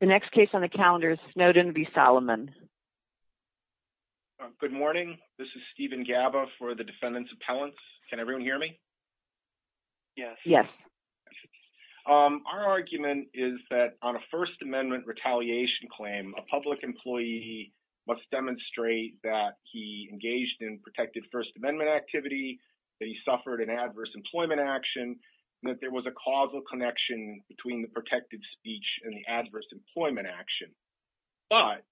The next case on the calendar is Snowden v. Salomon. Good morning. This is Stephen Gaba for the Defendant's Appellants. Can everyone hear me? Yes. Our argument is that on a First Amendment retaliation claim, a public employee must demonstrate that he engaged in protected First Amendment activity, that he suffered an adverse employment action, and that there was a causal connection between the protected speech and the adverse employment action. But,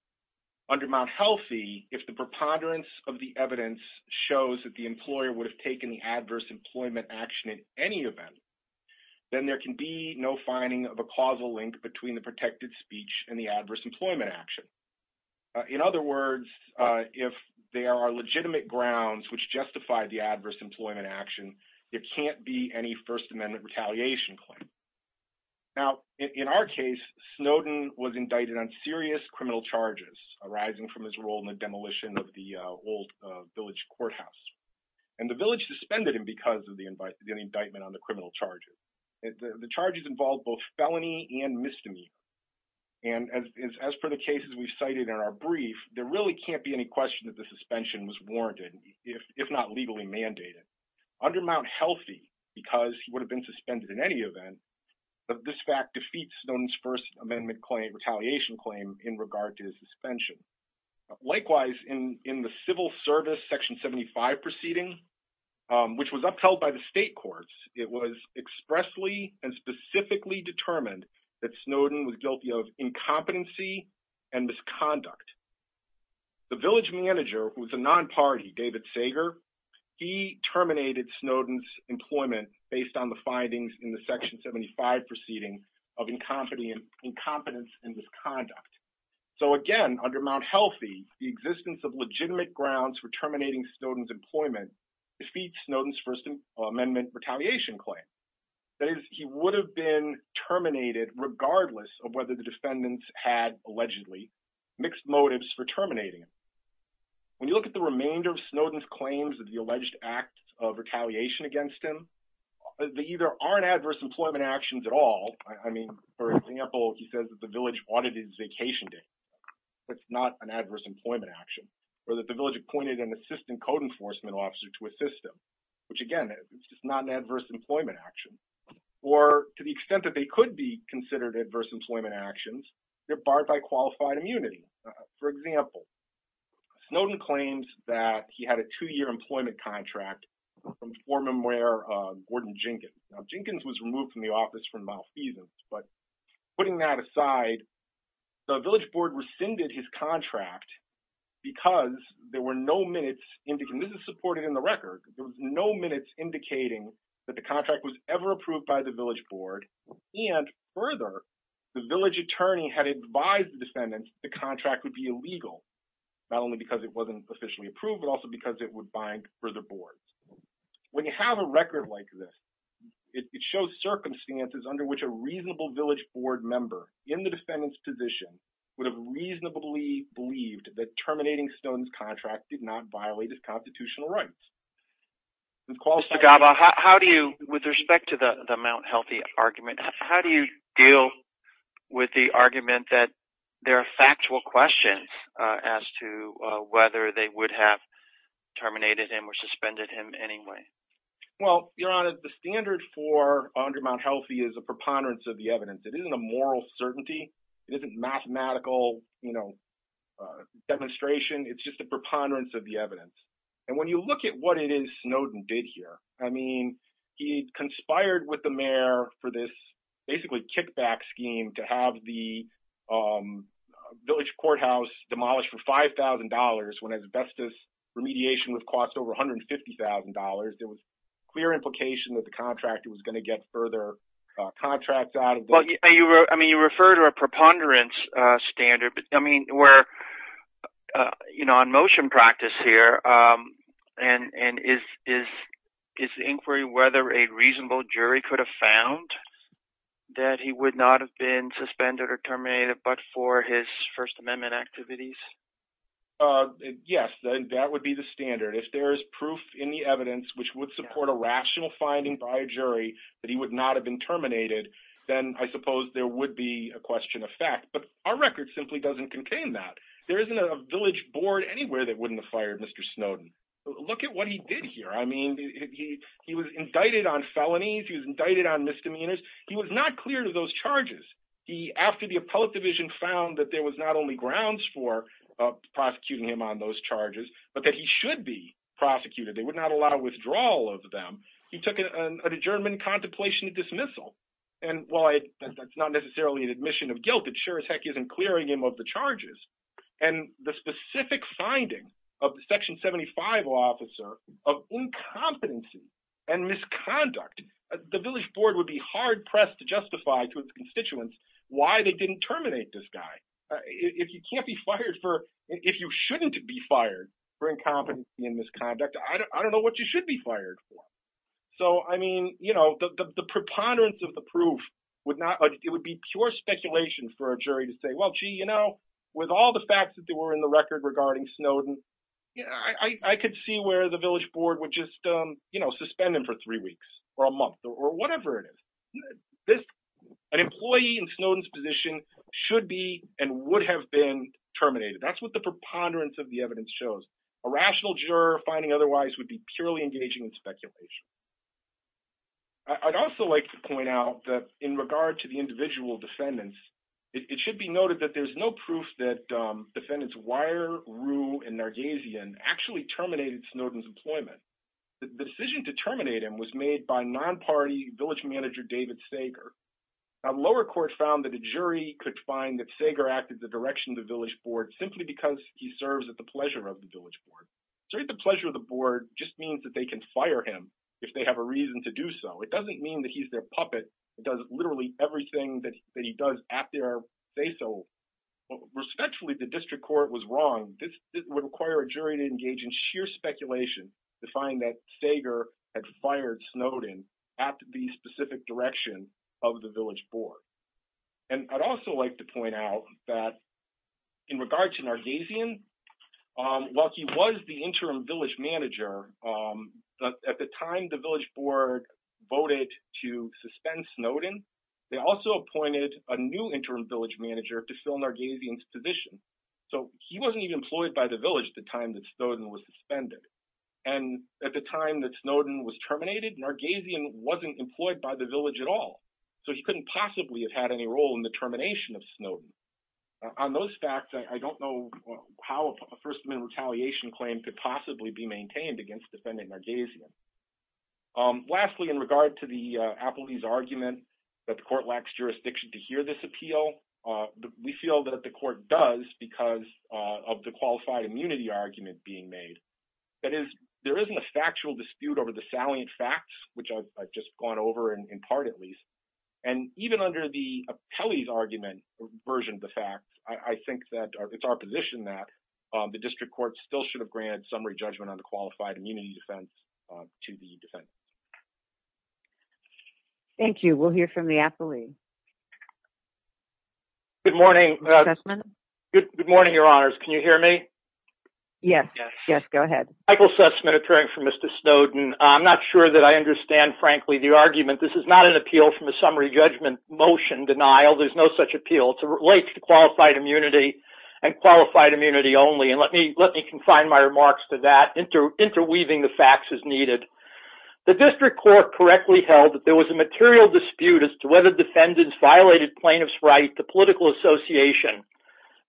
under Mount Healthy, if the preponderance of the evidence shows that the employer would have taken the adverse employment action in any event, then there can be no finding of a causal link between the protected speech and the adverse employment action. In other words, if there are legitimate grounds which justify the adverse employment action, it can't be any First Amendment retaliation claim. Now, in our case, Snowden was indicted on serious criminal charges arising from his role in the demolition of the old village courthouse. And the village suspended him because of the indictment on the criminal charges. The charges involved both felony and misdemeanor. And as per the cases we've cited in our brief, there really can't be any question that the suspension was warranted, if not legally mandated. Under Mount Healthy, because he would have been suspended in any event, this fact defeats Snowden's First Amendment claim, retaliation claim, in regard to his suspension. Likewise, in the Civil Service Section 75 proceeding, which was upheld by the state courts, it was expressly and specifically determined that Snowden was guilty of incompetency and misconduct. The village manager, who was a non-party, David Sager, he terminated Snowden's employment based on the findings in the Section 75 proceeding of incompetence and misconduct. So again, under Mount Healthy, the existence of legitimate grounds for terminating Snowden's employment defeats Snowden's First Amendment retaliation claim. That is, he would have been terminated regardless of whether the defendants had, allegedly, mixed motives for terminating him. When you look at the remainder of Snowden's claims of the alleged acts of retaliation against him, they either aren't adverse employment actions at all. I mean, for example, he says that the village audited his vacation date. That's not an adverse employment action. Or that the village appointed an assistant code enforcement officer to assist him. Which, again, is not an adverse employment action. Or, to the extent that they could be considered adverse employment actions, they're barred by qualified immunity. For example, Snowden claims that he had a two-year employment contract from former mayor Gordon Jenkins. Now, Jenkins was removed from the office for malfeasance, but putting that aside, the village board rescinded his contract because there were no minutes indicating, this is supported in the record, there were no minutes indicating that the contract was ever approved by the village board. And, further, the village attorney had advised the defendants the contract would be illegal. Not only because it wasn't officially approved, but also because it would bind further boards. When you have a record like this, it shows circumstances under which a reasonable village board member in the defendant's position would have reasonably believed that terminating Snowden's contract did not violate his constitutional rights. Mr. Gaba, with respect to the Mt. Healthy argument, how do you deal with the argument that there are factual questions as to whether they would have terminated him or suspended him anyway? Well, Your Honor, the standard for under Mt. Healthy is a preponderance of the evidence. It isn't a moral certainty. It isn't mathematical demonstration. It's just a preponderance of the evidence. And when you look at what it is Snowden did here, I mean, he conspired with the mayor for this basically kickback scheme to have the village courthouse demolished for $5,000 when asbestos remediation would cost over $150,000. There was clear implication that the contractor was going to get further contracts out of this. You refer to a preponderance standard, but on motion practice here, is the inquiry whether a reasonable jury could have found that he would not have been suspended or terminated but for his First Amendment activities? Yes, that would be the standard. If there is proof in the evidence which would support a rational finding by a jury that he would not have been terminated, then I suppose there would be a question of fact. But our record simply doesn't contain that. There isn't a village board anywhere that wouldn't have fired Mr. Snowden. Look at what he did here. I mean, he was indicted on felonies. He was indicted on misdemeanors. He was not clear to those charges. After the appellate division found that there was not only grounds for prosecuting him on those charges, but that he should be prosecuted, they would not allow withdrawal of them, he took an adjournment contemplation dismissal. And while that's not necessarily an admission of guilt, it sure as heck isn't clearing him of the charges. And the specific finding of the Section 75 law officer of incompetency and misconduct, the village board would be hard-pressed to justify to his constituents why they didn't terminate this guy. If you can't be fired for, if you shouldn't be fired for incompetency and misconduct, I don't know what you should be fired for. So, I mean, you know, the preponderance of the proof would not, it would be pure speculation for a jury to say, well, gee, you know, with all the facts that were in the record regarding Snowden, I could see where the village board would just, you know, suspend him for three weeks or a month or whatever it is. An employee in Snowden's position should be and would have been terminated. That's what the preponderance of the evidence shows. A rational juror finding otherwise would be purely engaging in speculation. I'd also like to point out that in regard to the individual defendants, it should be noted that there's no proof that defendants Wire, Rue, and Nargazian actually terminated Snowden's employment. The decision to terminate him was made by non-party village manager David Sager. A lower court found that a jury could find that Sager acted the direction of the village board simply because he serves at the pleasure of the village board. Serving at the pleasure of the board just means that they can fire him if they have a reason to do so. It doesn't mean that he's their puppet that does literally everything that he does at their say-so. Respectfully, the district court was wrong. This would require a jury to engage in sheer speculation to find that Sager had fired Snowden at the specific direction of the village board. And I'd also like to point out that in regard to Nargazian, while he was the interim village manager, at the time the village board voted to suspend Snowden, they also appointed a new interim village manager to fill Nargazian's position. So he wasn't even employed by the village at the time that Snowden was suspended. And at the time that Snowden was terminated, Nargazian wasn't employed by the village at all. So he couldn't possibly have had any role in the termination of Snowden. On those facts, I don't know how a First Amendment retaliation claim could possibly be maintained against defendant Nargazian. Lastly, in regard to the appellee's argument that the court lacks jurisdiction to hear this appeal, we feel that the court does because of the qualified immunity argument being made. That is, there isn't a factual dispute over the salient facts, which I've just gone over in part at least. And even under the appellee's argument version of the fact, I think that it's our position that the district court still should have granted summary judgment on the qualified immunity defense to the defense. Thank you. We'll hear from the appellee. Good morning. Good morning, Your Honors. Can you hear me? Yes. Yes. Go ahead. Michael Sussman, appearing for Mr. Snowden. I'm not sure that I understand, frankly, the argument. It's not from a summary judgment motion denial. There's no such appeal. It relates to qualified immunity and qualified immunity only. And let me confine my remarks to that, interweaving the facts as needed. The district court correctly held that there was a material dispute as to whether defendants violated plaintiff's right to political association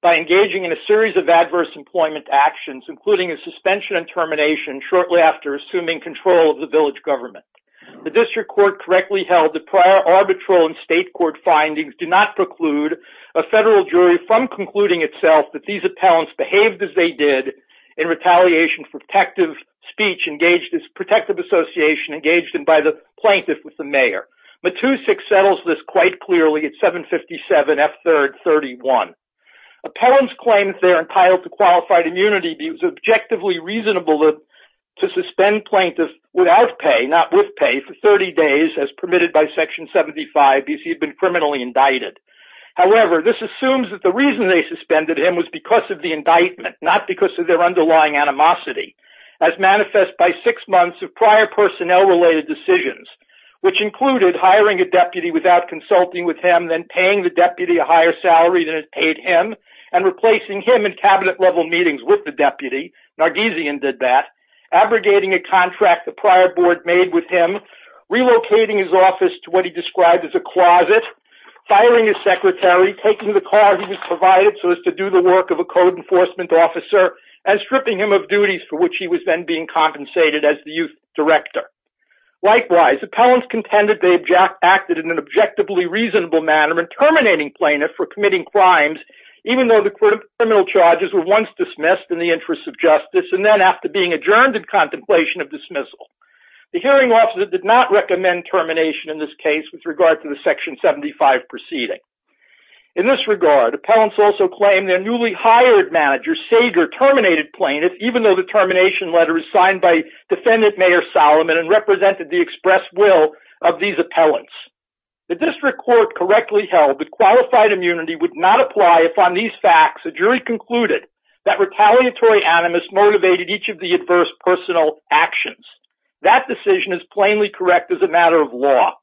by engaging in a series of adverse employment actions, including a suspension and termination shortly after assuming control of the village government. The district court correctly held the prior arbitral and state court findings do not preclude a federal jury from concluding itself that these appellants behaved as they did in retaliation for protective speech engaged as protective association engaged in by the plaintiff with the mayor. Matusik settles this quite clearly at 757 F3rd 31. Appellants claim that they're entitled to qualified immunity because it was objectively reasonable to suspend plaintiff without pay, not with pay, for 30 days as permitted by Section 75 if he had been criminally indicted. However, this assumes that the reason they suspended him was because of the indictment, not because of their underlying animosity as manifest by six months of prior personnel related decisions, which included hiring a deputy without consulting with him, then paying the deputy a higher salary than it paid him and replacing him in cabinet level meetings with the deputy. Nargisian did that, abrogating a contract the prior board made with him, relocating his office to what he described as a closet, firing his secretary, taking the car he was provided so as to do the work of a code enforcement officer, and stripping him of duties for which he was then being compensated as the youth director. Likewise, appellants contended they acted in an objectively reasonable manner in terminating plaintiff for committing crimes even though the criminal charges were once dismissed in the interest of justice and then after being adjourned in contemplation of dismissal. The hearing officer did not recommend termination in this case with regard to the Section 75 proceeding. In this regard, appellants also claimed their newly hired manager, Sager, terminated plaintiff even though the termination letter was signed by defendant Mayor Solomon and represented the express will of these appellants. The district court correctly held that qualified immunity would not apply if on these facts a jury concluded that retaliatory animus motivated each of the adverse personal actions. That decision is plainly correct as a matter of law.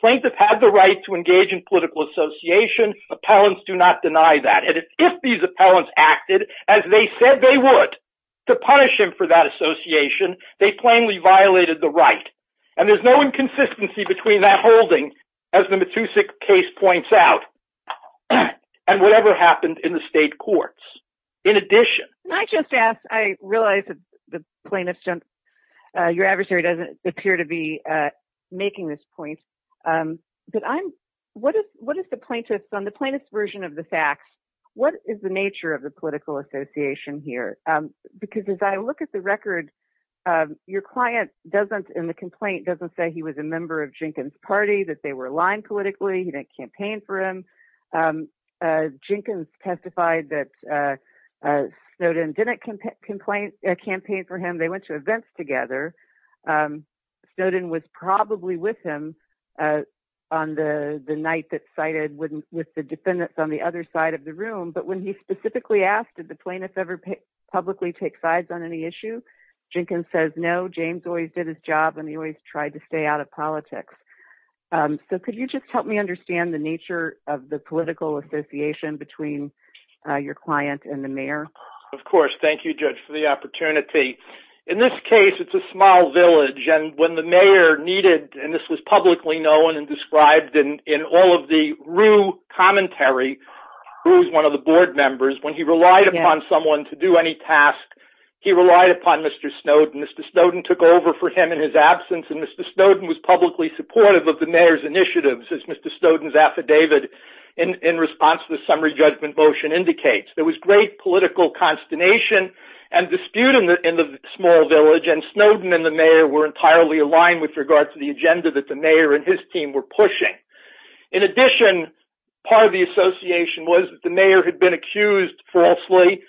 Plaintiffs have the right to engage in political association. Appellants do not deny that. And if these appellants acted as they said they would to punish him for that association, they plainly violated the right. And there's no inconsistency between that holding, as the Matusik case points out, and whatever happened in the state courts. In addition, I just asked, I realized the plaintiff's jump. Your adversary doesn't appear to be making this point. But I'm what is what is the plaintiff's on the plaintiff's version of the facts? What is the nature of the political association here? Because as I look at the record, your client doesn't in the complaint doesn't say he was a member of Jenkins party that they were aligned politically. He didn't campaign for him. Jenkins testified that Snowden didn't complain, campaign for him. They went to events together. Snowden was probably with him on the night that cited with the defendants on the other side of the room. But when he specifically asked, did the plaintiffs ever publicly take sides on any issue? Jenkins says no. James always did his job and he always tried to stay out of politics. So could you just help me understand the nature of the political association between your client and the mayor? Of course. Thank you, Judge, for the opportunity. In this case, it's a small village. And when the mayor needed and this was publicly known and described in all of the rue commentary, who was one of the board members when he relied upon someone to do any task, he relied upon Mr. Snowden. Mr. Snowden took over for him in his absence. And Mr. Snowden was publicly supportive of the mayor's initiatives. As Mr. Snowden's affidavit in response to the summary judgment motion indicates, there was great political consternation and dispute in the small village. And Snowden and the mayor were entirely aligned with regard to the agenda that the mayor and his team were pushing. In addition, part of the association was the mayor had been accused falsely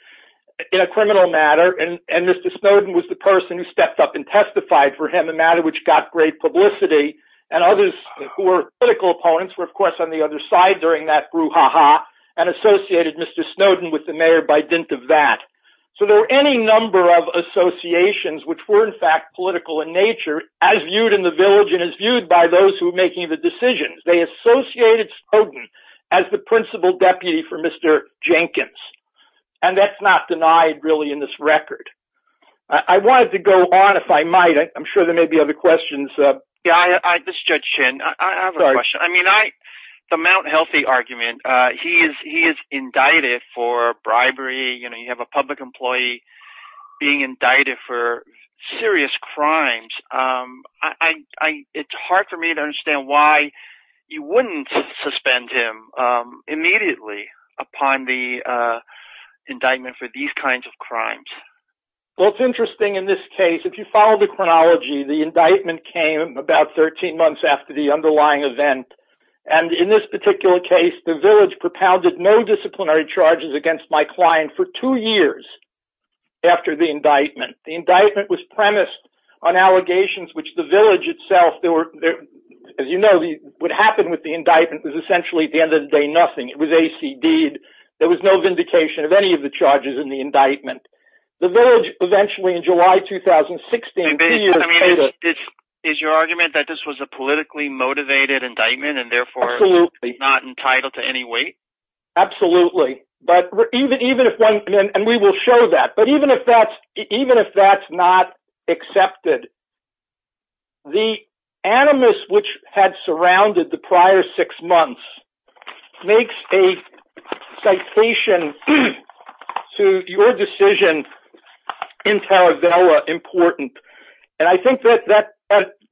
in a criminal matter. And Mr. Snowden was the person who stepped up and testified for him, a matter which got great publicity. And others who were political opponents were, of course, on the other side during that brouhaha and associated Mr. Snowden with the mayor by dint of that. So there were any number of associations which were, in fact, political in nature, as viewed in the village and as viewed by those who were making the decisions. They associated Snowden as the principal deputy for Mr. Jenkins. And that's not denied, really, in this record. I wanted to go on, if I might. I'm sure there may be other questions. This is Judge Chin. I have a question. The Mount Healthy argument, he is indicted for bribery. You have a public employee being indicted for serious crimes. It's hard for me to understand why you wouldn't suspend him immediately upon the indictment for these kinds of crimes. Well, it's interesting. In this case, if you follow the chronology, the indictment came about 13 months after the underlying event. And in this particular case, the village propounded no disciplinary charges against my client for two years after the indictment. The indictment was premised on allegations which the village itself, as you know, what happened with the indictment was essentially, at the end of the day, nothing. It was ACD'd. There was no vindication of any of the charges in the indictment. The village, eventually, in July 2016… Is your argument that this was a politically motivated indictment and therefore not entitled to any weight? Absolutely. And we will show that. But even if that's not accepted, the animus which had surrounded the prior six months makes a citation to your decision in Taravella important. And I think that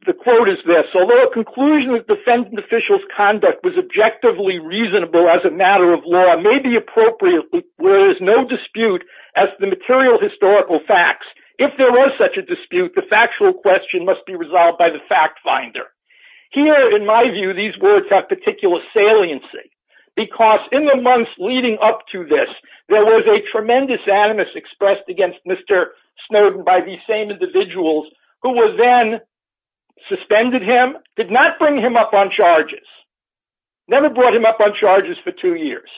the quote is this. Although a conclusion of defendant official's conduct was objectively reasonable as a matter of law may be appropriate where there is no dispute as to the material historical facts. If there was such a dispute, the factual question must be resolved by the fact finder. Here, in my view, these words have particular saliency. Because in the months leading up to this, there was a tremendous animus expressed against Mr. Snowden by the same individuals who were then suspended him, did not bring him up on charges. Never brought him up on charges for two years.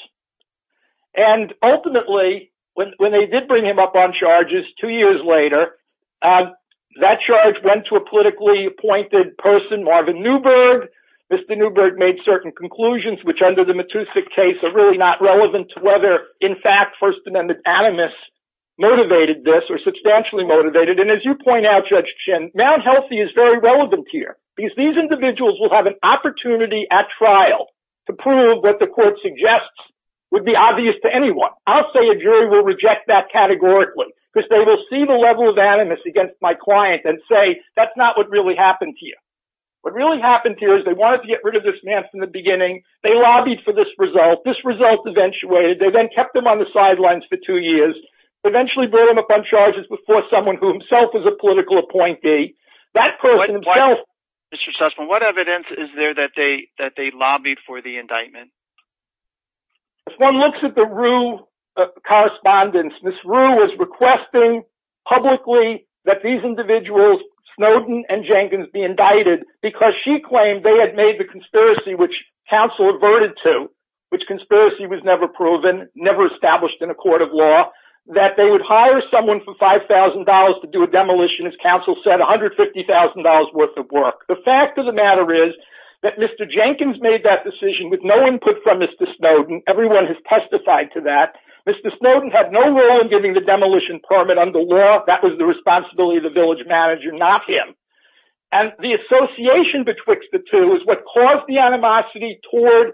And ultimately, when they did bring him up on charges two years later, that charge went to a politically appointed person, Marvin Newberg. Mr. Newberg made certain conclusions which under the Matusik case are really not relevant to whether, in fact, First Amendment animus motivated this or substantially motivated. And as you point out, Judge Chin, Mount Healthy is very relevant here. Because these individuals will have an opportunity at trial to prove what the court suggests would be obvious to anyone. I'll say a jury will reject that categorically. Because they will see the level of animus against my client and say, that's not what really happened to you. What really happened to you is they wanted to get rid of this man from the beginning. They lobbied for this result. This result eventuated. They then kept him on the sidelines for two years. Eventually brought him up on charges before someone who himself was a political appointee. That person himself... Mr. Sussman, what evidence is there that they lobbied for the indictment? If one looks at the Rue correspondence, Ms. Rue was requesting publicly that these individuals, Snowden and Jenkins, be indicted. Because she claimed they had made the conspiracy which counsel averted to. Which conspiracy was never proven, never established in a court of law. That they would hire someone for $5,000 to do a demolition, as counsel said, $150,000 worth of work. The fact of the matter is that Mr. Jenkins made that decision with no input from Mr. Snowden. Everyone has testified to that. Mr. Snowden had no role in giving the demolition permit under law. That was the responsibility of the village manager, not him. And the association betwixt the two is what caused the animosity toward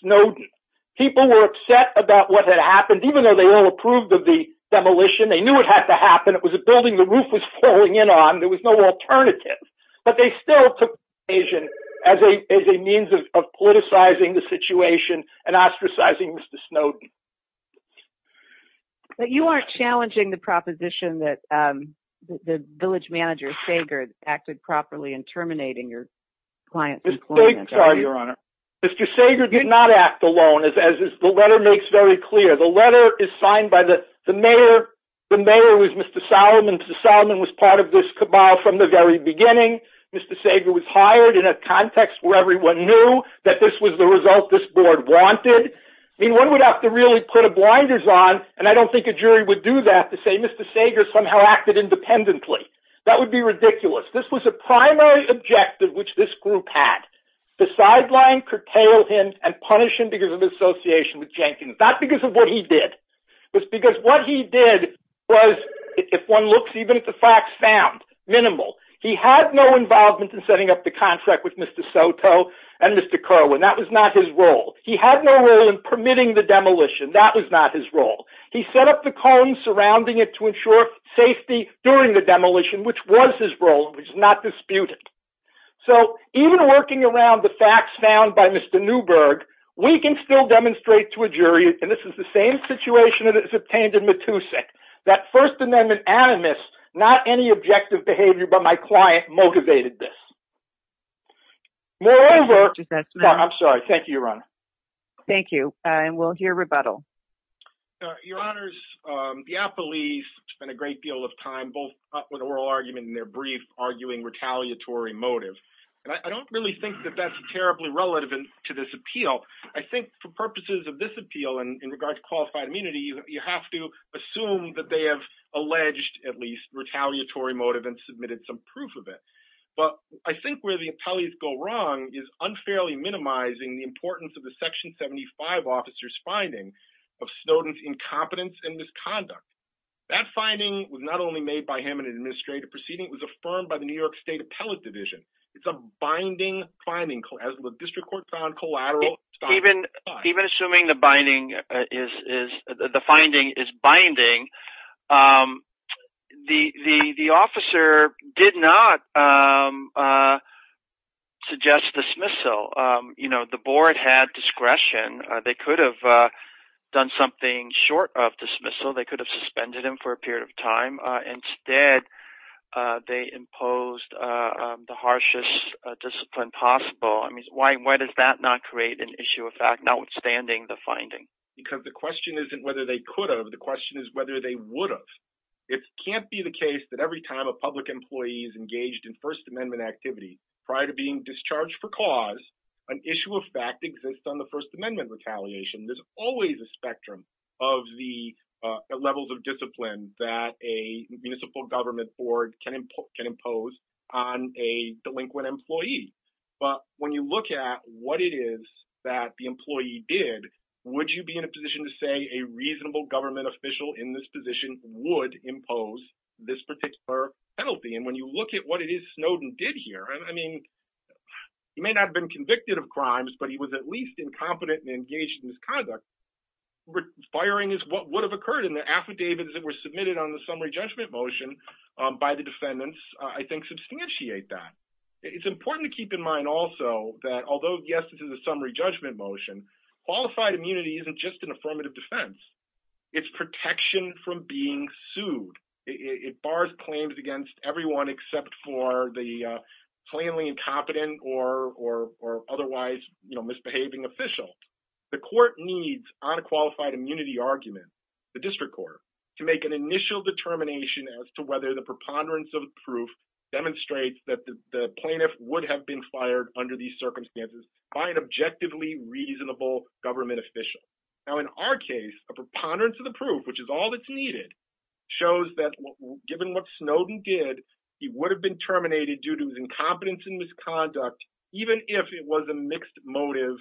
Snowden. People were upset about what had happened, even though they all approved of the demolition. They knew it had to happen. It was a building the roof was falling in on. There was no alternative. But they still took the situation as a means of politicizing the situation and ostracizing Mr. Snowden. But you aren't challenging the proposition that the village manager, Sager, acted properly in terminating your client's employment. Mr. Sager did not act alone, as the letter makes very clear. The letter is signed by the mayor. The mayor was Mr. Solomon. Mr. Solomon was part of this cabal from the very beginning. Mr. Sager was hired in a context where everyone knew that this was the result this board wanted. One would have to really put a blinders on, and I don't think a jury would do that, to say Mr. Sager somehow acted independently. That would be ridiculous. This was a primary objective which this group had. To sideline, curtail him, and punish him because of his association with Jenkins. Not because of what he did. It was because what he did was, if one looks even at the facts found, minimal. He had no involvement in setting up the contract with Mr. Soto and Mr. Kerwin. That was not his role. He had no role in permitting the demolition. That was not his role. He set up the cones surrounding it to ensure safety during the demolition, which was his role. It was not disputed. Even working around the facts found by Mr. Newberg, we can still demonstrate to a jury, and this is the same situation that is obtained in Matusik, that First Amendment animus, not any objective behavior by my client, motivated this. Moreover... I'm sorry. Thank you, Your Honor. Thank you. We'll hear rebuttal. Your Honors, the apolice spent a great deal of time, both with oral argument and their brief, arguing retaliatory motive. And I don't really think that that's terribly relevant to this appeal. I think for purposes of this appeal, and in regards to qualified immunity, you have to assume that they have alleged, at least, retaliatory motive and submitted some proof of it. But I think where the appellees go wrong is unfairly minimizing the importance of the Section 75 officer's finding of Snowden's incompetence and misconduct. That finding was not only made by him in an administrative proceeding, but it was made by the New York State Appellate Division. It's a binding finding, as the district court found collateral... Even assuming the binding is... the finding is binding, the officer did not suggest dismissal. You know, the board had discretion. They could have done something short of dismissal. They could have suspended him for a period of time. Instead, they imposed the harshest discipline possible. I mean, why does that not create an issue of fact, notwithstanding the finding? Because the question isn't whether they could have. The question is whether they would have. It can't be the case that every time a public employee is engaged in First Amendment activity, prior to being discharged for cause, an issue of fact exists on the First Amendment retaliation. There's always a spectrum of the levels of discipline that a municipal government board can impose on a delinquent employee. But when you look at what it is that the employee did, would you be in a position to say a reasonable government official in this position would impose this particular penalty? And when you look at what it is Snowden did here, I mean, he may not have been convicted of crimes, but he was at least incompetent and engaged in misconduct. Firing is what would have occurred in the affidavits that were submitted on the summary judgment motion by the defendants, I think, substantiate that. It's important to keep in mind also that although, yes, this is a summary judgment motion, qualified immunity isn't just an affirmative defense. It's protection from being sued. It bars claims against everyone except for the plainly incompetent or otherwise misbehaving official. The court needs unqualified immunity argument, the district court, to make an initial determination as to whether the preponderance of the proof demonstrates that the plaintiff would have been fired under these circumstances by an objectively reasonable government official. Now, in our case, a preponderance of the proof, which is all that's needed, shows that given what Snowden did, he would have been terminated due to his incompetence and misconduct, even if it was a mixed motive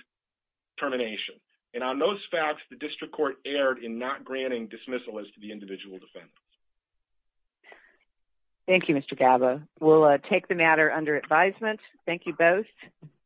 termination. And on those facts, the district court erred in not granting dismissal as to the individual defendants. Thank you, Mr. Gabba. We'll take the matter under advisement. Thank you both.